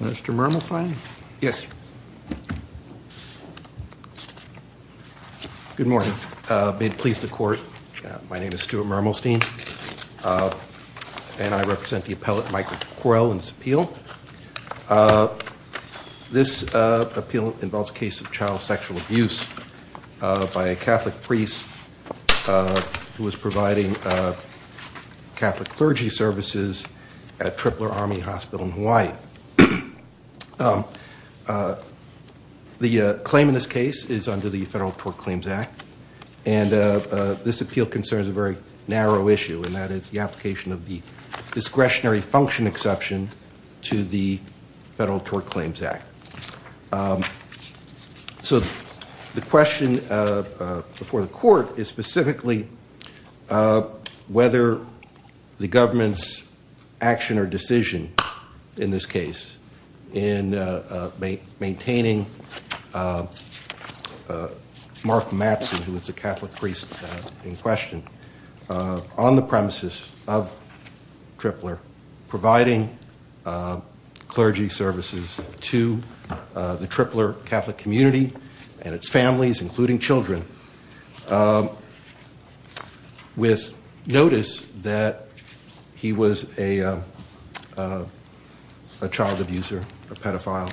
Mr. Murmelstein? Yes. Good morning. May it please the court, my name is Stuart Murmelstein and I represent the appellate Michael Croyle in this appeal. This appeal involves a case of child sexual abuse by a Catholic priest who was providing Catholic clergy services at Tripler Army Hospital in Hawaii. The claim in this case is under the Federal Tort Claims Act and this appeal concerns a very narrow issue and that is the application of the discretionary function exception to the Federal Tort Claims Act. So the question before the court is specifically whether the government's action or decision in this case in maintaining Mark Mattson who was providing clergy services to the Tripler Catholic community and its families including children with notice that he was a child abuser, a pedophile.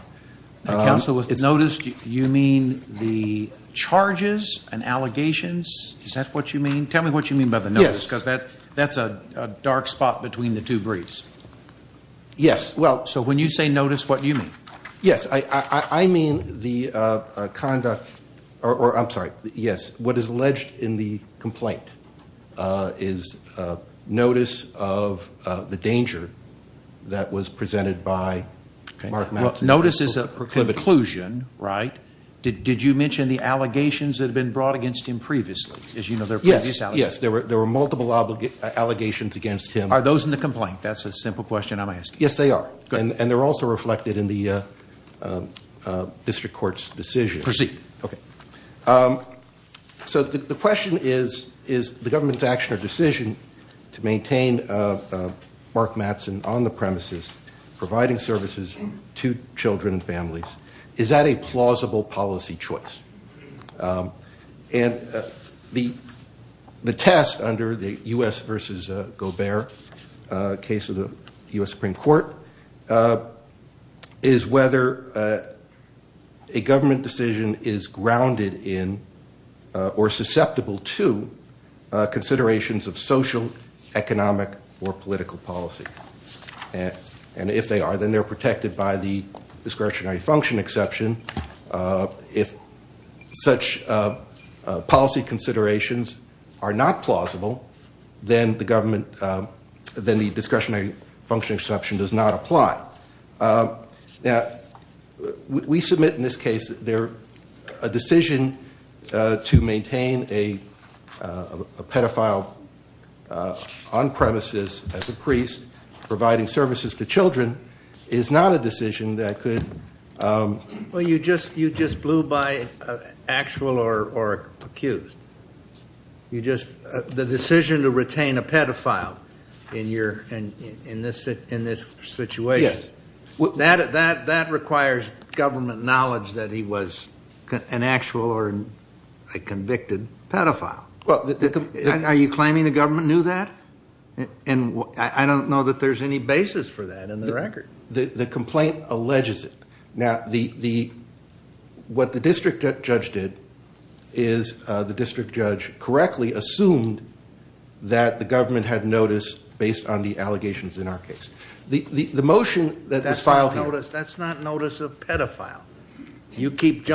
Notice, you mean the charges and allegations? Is that what you mean? Tell me what you mean by the notice because that's a dark spot between the two briefs. Yes. So when you say notice what do you mean? Yes, I mean the conduct or I'm sorry, yes, what is alleged in the complaint is notice of the danger that was presented by Mark Mattson. Notice is a conclusion, right? Did you mention the allegations that have been brought against him previously? Yes, there were multiple allegations against him. Are those in the complaint? That's a simple question I'm asking. Yes, they are and they're also reflected in the district court's decision. Proceed. Okay. So the question is, is the government's action or decision to maintain Mark Mattson on the premises providing services to children and families, is that a plausible policy choice? And the test under the U.S. versus Gobert case of the U.S. Supreme Court is whether a government decision is grounded in or susceptible to considerations of social, economic, or political policy. And if they are, then they're protected by the discretionary function exception. If such policy considerations are not plausible, then the government, then the discretionary function exception does not apply. Now, we submit in this case that they're a decision to maintain a pedophile on premises as a priest providing services to children is not a decision that could... Well, you just blew by actual or accused. The decision to retain a pedophile in this situation, that requires government knowledge that he was an actual or a convicted pedophile. Are you claiming the government knew that? And I don't know that there's any basis for that in the record. The complaint alleges it. Now, what the district judge did is the district judge correctly assumed that the government had noticed based on the allegations in our case. The motion that was filed... That's not notice of pedophile. You keep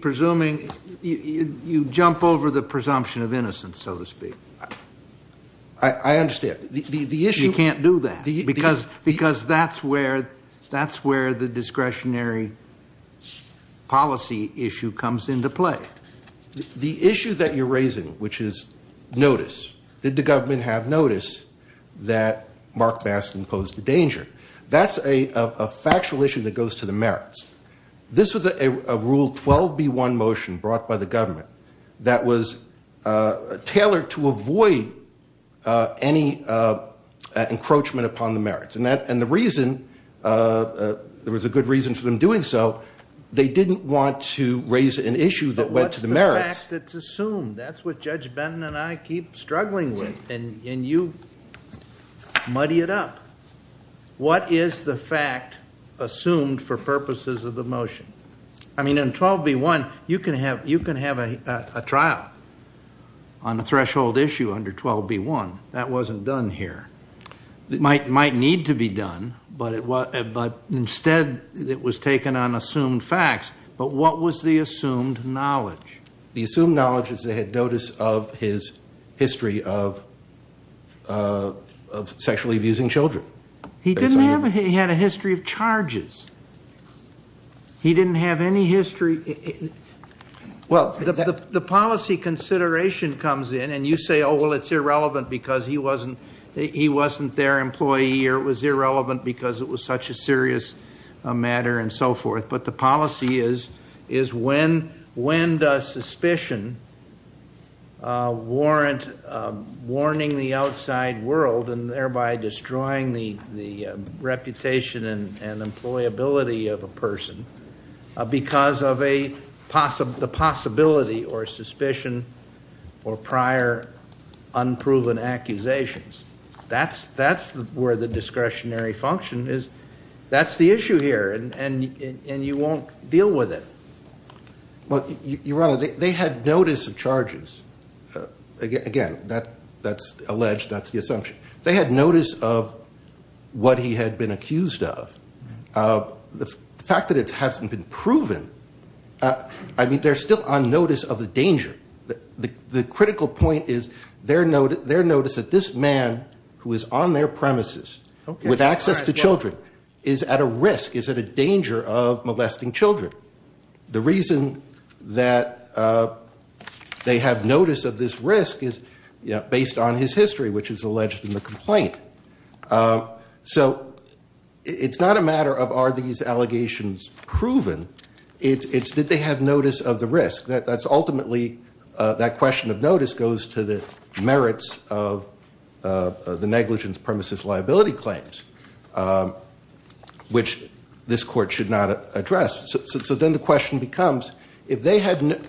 presuming... You jump over the presumption of innocence, so to speak. I understand. You can't do that because that's where the discretionary policy issue comes into play. The issue that you're raising, which is notice. Did the government have notice that Mark Baskin posed a danger? That's a factual issue that goes to the merits. This was a Rule 12b1 motion brought by the government that was tailored to avoid any encroachment upon the merits. And the reason... There was a good reason for them doing so. They didn't want to raise an issue that went to the merits. But what's the fact that's assumed? That's what fact assumed for purposes of the motion. I mean, in 12b1, you can have a trial on a threshold issue under 12b1. That wasn't done here. It might need to be done, but instead it was taken on assumed facts. But what was the assumed knowledge? The assumed knowledge is they had notice of his of charges. He didn't have any history... Well, the policy consideration comes in, and you say, oh, well, it's irrelevant because he wasn't their employee, or it was irrelevant because it was such a serious matter, and so forth. But the policy is, when does suspicion warrant warning the outside world and thereby destroying the reputation and employability of a person because of the possibility or suspicion or prior unproven accusations? That's where the discretionary function is. That's the issue here, and you won't deal with it. Well, Your Honor, they had notice of charges. Again, that's alleged. That's the assumption. They had notice of what he had been accused of. The fact that it hasn't been proven, I mean, they're still on notice of the danger. The critical point is their notice that this man who is on their premises with a risk, is at a danger of molesting children. The reason that they have notice of this risk is based on his history, which is alleged in the complaint. So it's not a matter of are these allegations proven, it's did they have notice of the risk. That's ultimately, that question of which this court should not address. So then the question becomes, if they hadn't,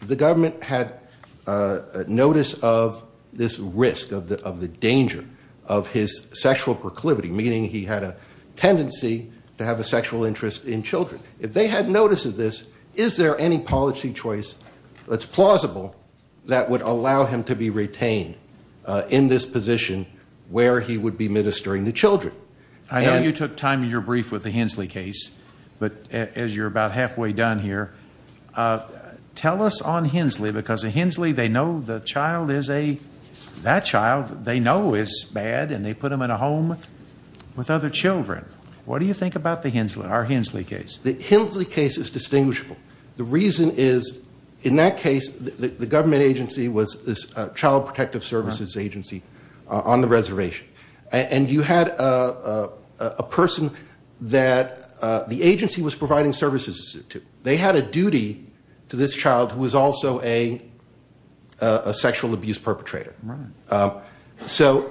the government had notice of this risk, of the danger of his sexual proclivity, meaning he had a tendency to have a sexual interest in children. If they had notice of this, is there any policy choice that's plausible that would allow him to be retained in this position where he would be ministering the children? I know you took time in your brief with the Hensley case, but as you're about halfway done here, tell us on Hensley, because Hensley, they know the child is a, that child, they know is bad and they put him in a home with other children. What do you think about the Hensley, our Hensley case? The Hensley case is distinguishable. The reason is, in that case, the government agency was this Child Protective Services Agency on the reservation. And you had a person that the agency was providing services to. They had a duty to this child who was also a sexual abuse perpetrator. So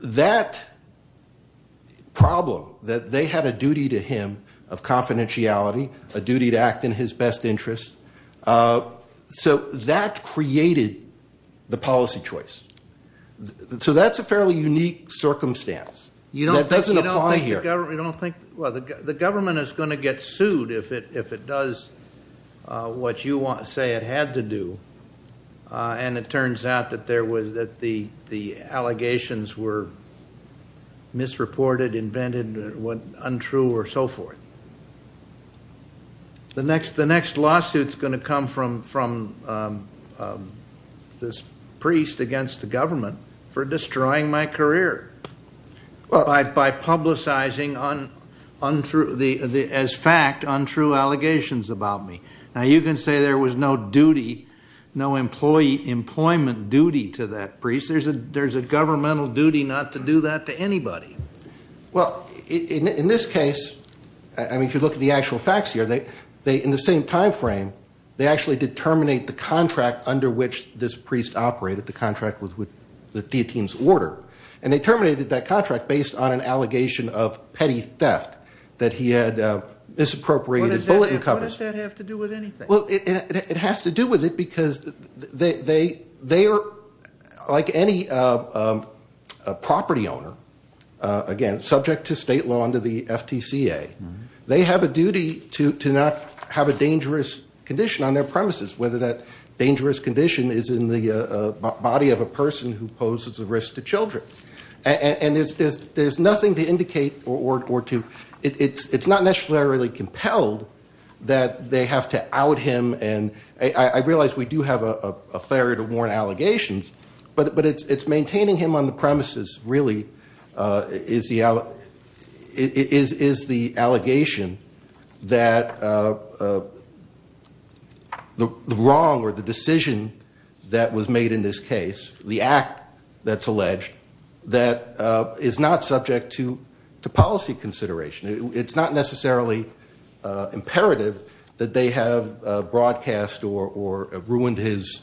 that problem, that they had a duty to him of confidentiality, a duty to act in his best interest. So that created the policy choice. So that's a fairly unique circumstance. You don't think, well, the government is going to get sued if it does what you want to say it had to do. And it turns out that the allegations were misreported, invented, untrue, or so forth. The next, the next lawsuit is going to come from this priest against the government for destroying my career by publicizing untrue, as fact, untrue allegations about me. Now you can say there was no duty, no employee employment duty to that priest. There's a governmental duty not to do that to anybody. Well, in this case, I mean, if you look at the actual facts here, they, in the same time frame, they actually did terminate the contract under which this priest operated. The contract was with the Theotene's Order. And they terminated that contract based on an allegation of petty theft that he had misappropriated bulletin covers. What does that have to do with anything? Well, it has to do with it because they are, like any property owner, again, subject to state law under the FTCA. They have a duty to not have a dangerous condition on their premises, whether that dangerous condition is in the body of a person who poses a risk to children. And there's nothing to indicate or to, it's not necessarily compelled that they have to out him. And I realize we do have a failure to warn allegations, but it's maintaining him on the premises really is the allegation that the wrong or the decision that was made in this case, the act that's alleged, that is not subject to policy consideration. It's not necessarily imperative that they have broadcast or ruined his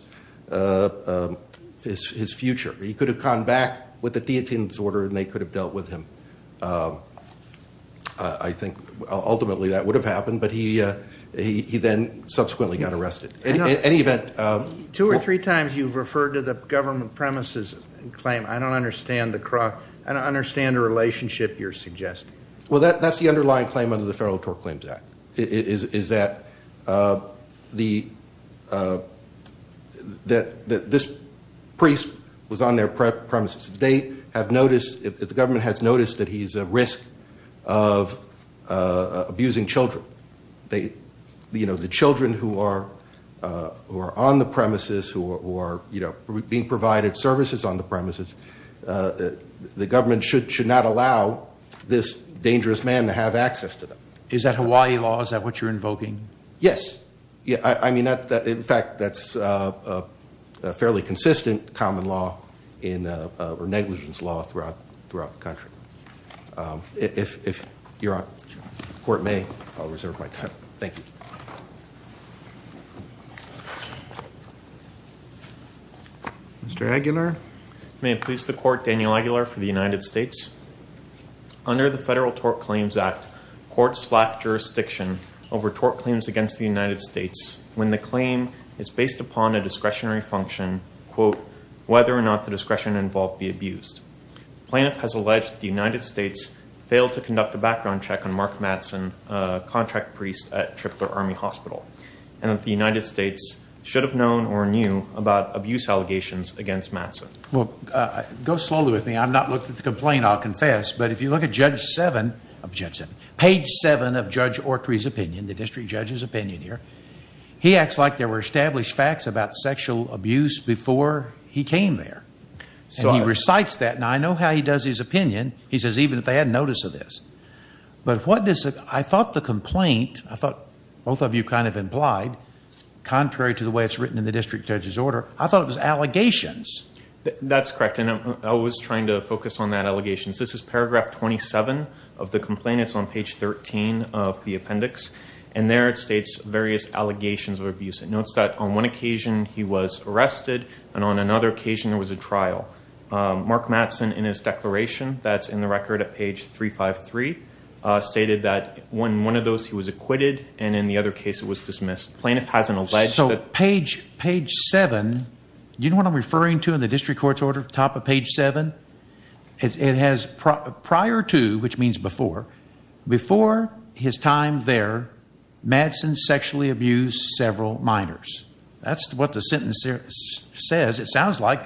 future. He could have come back with the Theotene's Order and they could have dealt with him. I think ultimately that would have happened, but he then subsequently got arrested. In any event- Two or three times you've referred to the government premises and claim, I don't understand the relationship you're suggesting. Well, that's the underlying claim under the Federal Tort Claims Act, is that this priest was on their premises. They have noticed, the government has noticed that he's a risk of abusing children. The children who are on the premises, who are being provided services on the premises, the government should not allow this dangerous man to have access to them. Is that Hawaii law? Is that what you're invoking? Yes. I mean, in fact, that's a fairly consistent common law or negligence law throughout the country. If you're on, the court may, I'll reserve my time. Thank you. Mr. Aguilar? May it please the court, Daniel Aguilar for the United States. Under the Federal Tort Claims Act, courts lack jurisdiction over tort claims against the United States when the claim is based upon a discretionary function, quote, whether or not the discretion involved be abused. Plaintiff has alleged the United States failed to conduct a background check on Mark Mattson, a contract priest at Tripler Army Hospital, and that the United States should have known or knew about abuse allegations against Mattson. Well, go slowly with me. I've not looked at the complaint, I'll confess. But if you look at Judge 7, page 7 of Judge Autry's opinion, the district judge's opinion here, he acts like there were established facts about sexual abuse before he came there. And he recites that, and I know how he does his opinion. He says even if they hadn't noticed this. But what does, I thought the way it's written in the district judge's order, I thought it was allegations. That's correct. And I was trying to focus on that allegations. This is paragraph 27 of the complaint. It's on page 13 of the appendix. And there it states various allegations of abuse. It notes that on one occasion he was arrested, and on another occasion there was a trial. Mark Mattson, in his declaration, that's in the record at page 353, stated that in one of those he was acquitted, and in the other case it was dismissed. Plaintiff hasn't alleged that. So page 7, you know what I'm referring to in the district court's order, top of page 7? It has prior to, which means before, before his time there, Mattson sexually abused several minors. That's what the sentence says. It sounds like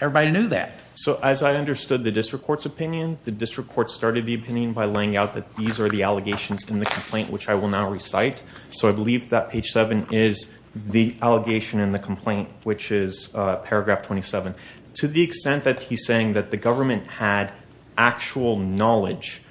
everybody knew that. So as I understood the district court's opinion, the district court started the opinion by laying out that these are the allegations in the complaint which I will now address. The first one is the allegation in the complaint, which is paragraph 27. To the extent that he's saying that the government had actual knowledge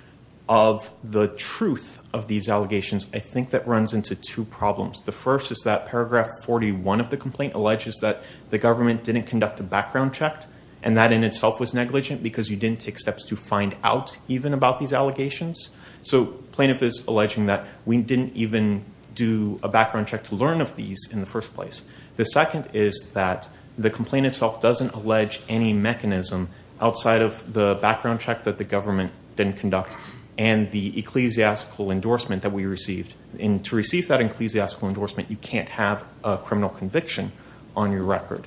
of the truth of these allegations, I think that runs into two problems. The first is that paragraph 41 of the complaint alleges that the government didn't conduct a background check, and that in itself was negligent because you didn't take steps to find out even about these allegations. So plaintiff is alleging that we didn't even do a background check to learn of these in the first place. The second is that the complaint itself doesn't allege any mechanism outside of the background check that the government didn't conduct and the ecclesiastical endorsement that we received. And to receive that ecclesiastical endorsement, you can't have a criminal conviction on your record.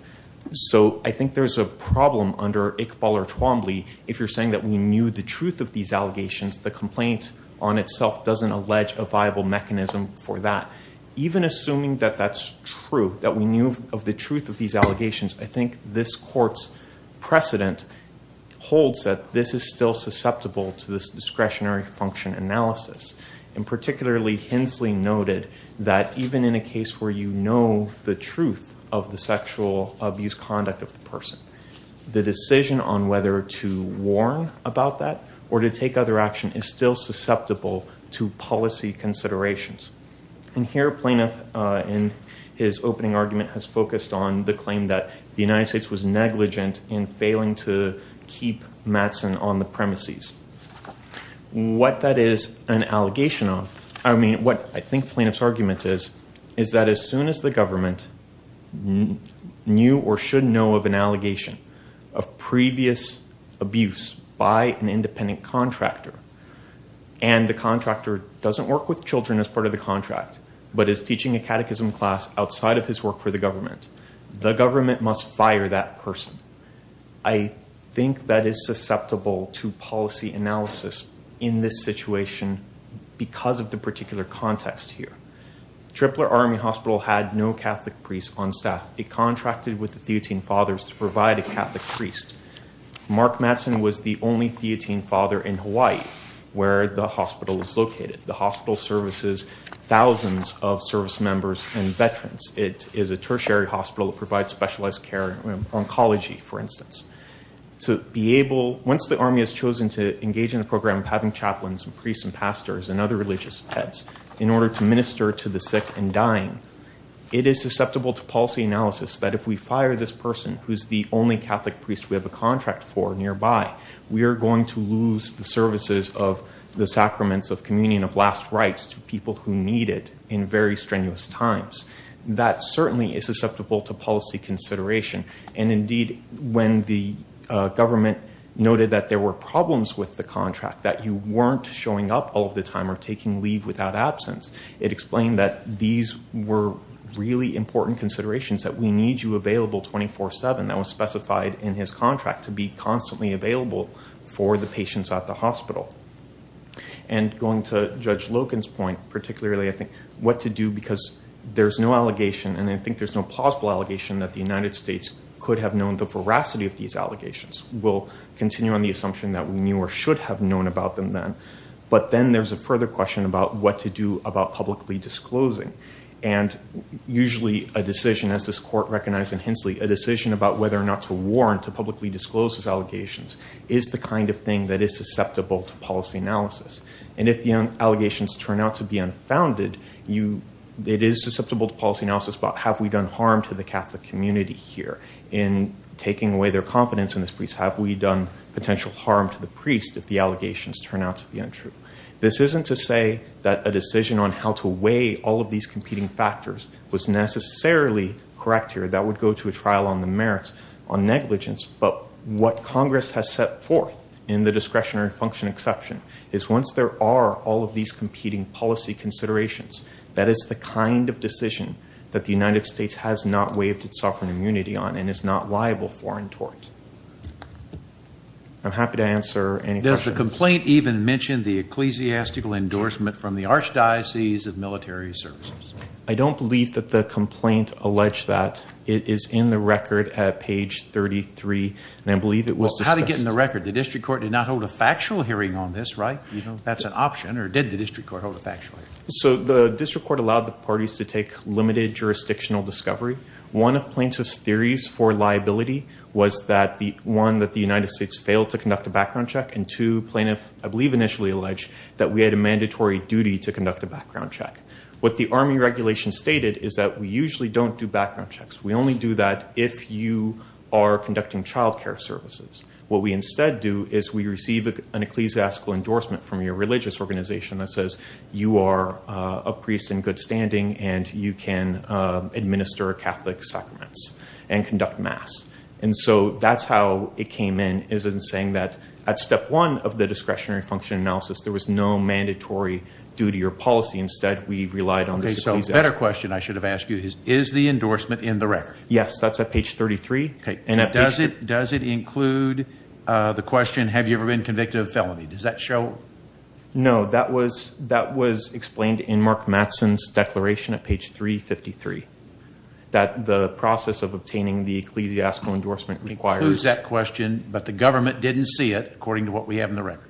So I think there's a problem under Iqbal or Twombly if you're saying that we knew the truth of these allegations, the complaint on itself doesn't allege a viable mechanism for that. Even assuming that that's true, that we knew of the truth of these allegations, I think this court's precedent holds that this is still susceptible to this discretionary function analysis. And particularly Hensley noted that even in a case where you know the truth of the sexual abuse conduct of the person, the decision on to warn about that or to take other action is still susceptible to policy considerations. And here plaintiff in his opening argument has focused on the claim that the United States was negligent in failing to keep Mattson on the premises. What that is an allegation of, I mean what I think plaintiff's argument is, is that as soon as the government knew or should know of an abuse by an independent contractor and the contractor doesn't work with children as part of the contract but is teaching a catechism class outside of his work for the government, the government must fire that person. I think that is susceptible to policy analysis in this situation because of the particular context here. Tripler Army Hospital had no Catholic priest on staff. It contracted with the Theotene Fathers to provide a Catholic priest. Mark Mattson was the only Theotene Father in Hawaii where the hospital is located. The hospital services thousands of service members and veterans. It is a tertiary hospital that provides specialized care, oncology for instance. To be able, once the Army has chosen to engage in a program of having chaplains and priests and pastors and other religious heads in order to minister to the sick and dying, it is susceptible to policy analysis that if we fire this person who's the only Catholic priest we have a contract for nearby, we are going to lose the services of the sacraments of communion of last rites to people who need it in very strenuous times. That certainly is susceptible to policy consideration. Indeed, when the government noted that there were problems with the contract, that you weren't showing up all of the time or taking leave without absence, it explained that these were really important considerations that we need you available 24-7. That was specified in his contract to be constantly available for the patients at the hospital. And going to Judge Loken's point, particularly I think what to do because there's no allegation and I think there's no plausible allegation that the United States could have known the veracity of these allegations. We'll continue on the assumption that we knew or should have known about them then. But then there's a further question about what to do about publicly disclosing. And usually a decision, as this court recognized in Hensley, a decision about whether or not to warrant to publicly disclose these allegations is the kind of thing that is susceptible to policy analysis. And if the allegations turn out to be unfounded, it is susceptible to policy analysis about have we done harm to the Catholic community here in taking away their confidence in this priest? Have we done potential harm to the priest if the allegations turn out to be untrue? This isn't to say that a decision on how to weigh all of these competing factors was necessarily correct here. That would go to a trial on the merits, on negligence. But what Congress has set forth in the discretionary function exception is once there are all of these competing policy considerations, that is the kind of decision that the United States has not waived its sovereign immunity on and is not liable for and towards. I'm happy to answer any questions. The complaint even mentioned the ecclesiastical endorsement from the archdiocese of military services. I don't believe that the complaint alleged that. It is in the record at page 33. And I believe it was discussed. How did it get in the record? The district court did not hold a factual hearing on this, right? That's an option. Or did the district court hold a factual hearing? So the district court allowed the parties to take limited jurisdictional discovery. One of plaintiff's theories for liability was that the one that the United States failed to conduct a I believe initially alleged that we had a mandatory duty to conduct a background check. What the army regulation stated is that we usually don't do background checks. We only do that if you are conducting childcare services. What we instead do is we receive an ecclesiastical endorsement from your religious organization that says you are a priest in good standing and you can administer Catholic sacraments and conduct mass. And so that's how it came in is in saying that at step one of the discretionary function analysis, there was no mandatory duty or policy. Instead, we relied on the ecclesiastical. So a better question I should have asked you is, is the endorsement in the record? Yes, that's at page 33. Okay. And does it include the question, have you ever been convicted of a felony? Does that show? No, that was explained in Mark Mattson's declaration at page 353, that the process of obtaining the ecclesiastical endorsement requires... Includes that question, but the record?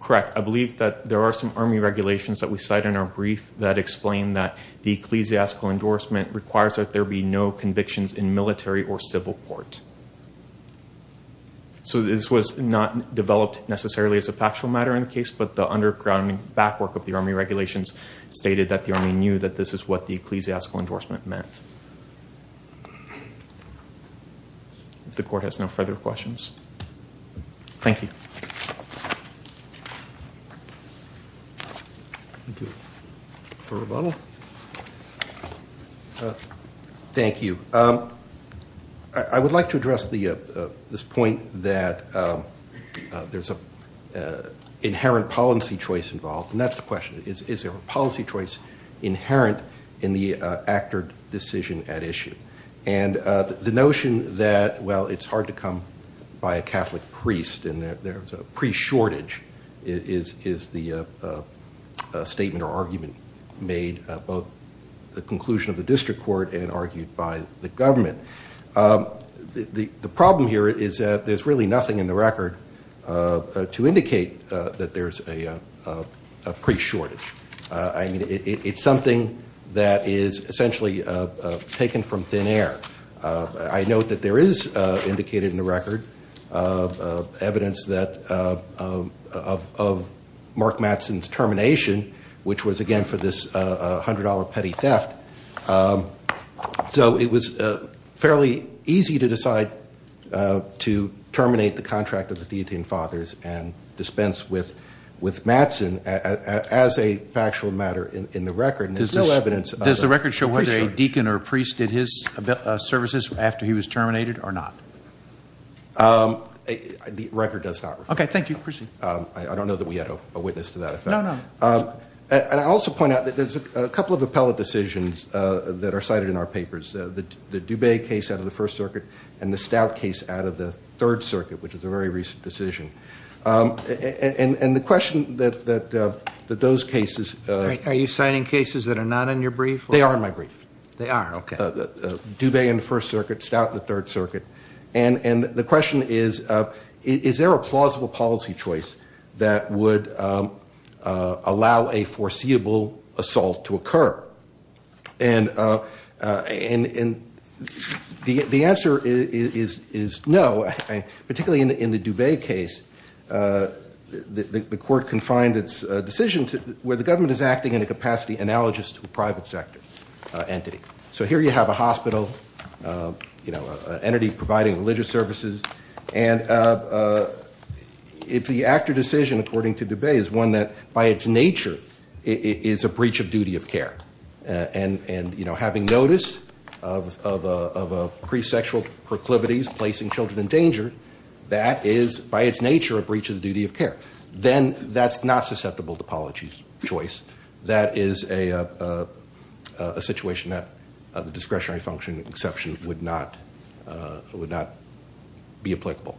Correct. I believe that there are some army regulations that we cite in our brief that explain that the ecclesiastical endorsement requires that there be no convictions in military or civil court. So this was not developed necessarily as a factual matter in the case, but the underground back work of the army regulations stated that the army knew that this is what the ecclesiastical endorsement meant. If the court has no further questions. Thank you. Thank you for rebuttal. Thank you. I would like to address this point that there's an inherent policy choice involved, and that's the question. Is there a policy choice inherent in the actor decision at issue? And the notion that, well, it's hard to come by a Catholic priest and there's a priest shortage is the statement or argument made both the conclusion of the district court and argued by the government. The problem here is that there's really nothing in the record to indicate that there's a priest shortage. I mean, it's something that is essentially taken from thin air. I note that there is indicated in the record of evidence that of Mark Mattson's termination, which was again for this $100 petty theft. So it was fairly easy to decide to terminate the contract of the theathian fathers and dispense with Mattson as a factual matter in the record. And there's no evidence. Does the record show whether a deacon or priest did his services after he was terminated or not? The record does not. Okay. Thank you. Proceed. I don't know that we had a witness to that. And I also point out that there's a couple of appellate decisions that are cited in our papers. The Dube case out of the First Circuit and the Stout case out of the Third Circuit, which is a very recent decision. And the question that those cases. Are you citing cases that are not in your brief? They are in my brief. They are. Okay. Dube in the First Circuit, Stout in the Third Circuit. And the question is, is there a plausible policy choice that would allow a foreseeable assault to occur? And the answer is no. Particularly in the Dube case, the court confined its decision to where the government is acting in a capacity analogous to a private sector entity. So here you have a hospital, you know, entity providing religious services. And if the actor decision, according to Dube, is one that by its nature is a breach of duty of care. And, you know, having notice of a priest's sexual proclivities, placing children in danger, that is, by its nature, a breach of the duty of care. Then that's not susceptible to policy choice. That is a situation that the discretionary function exception would not be applicable.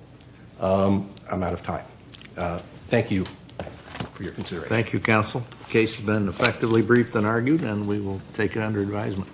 I'm out of time. Thank you for your consideration. Thank you, counsel. The case has been effectively briefed and argued, and we will take it under advisement.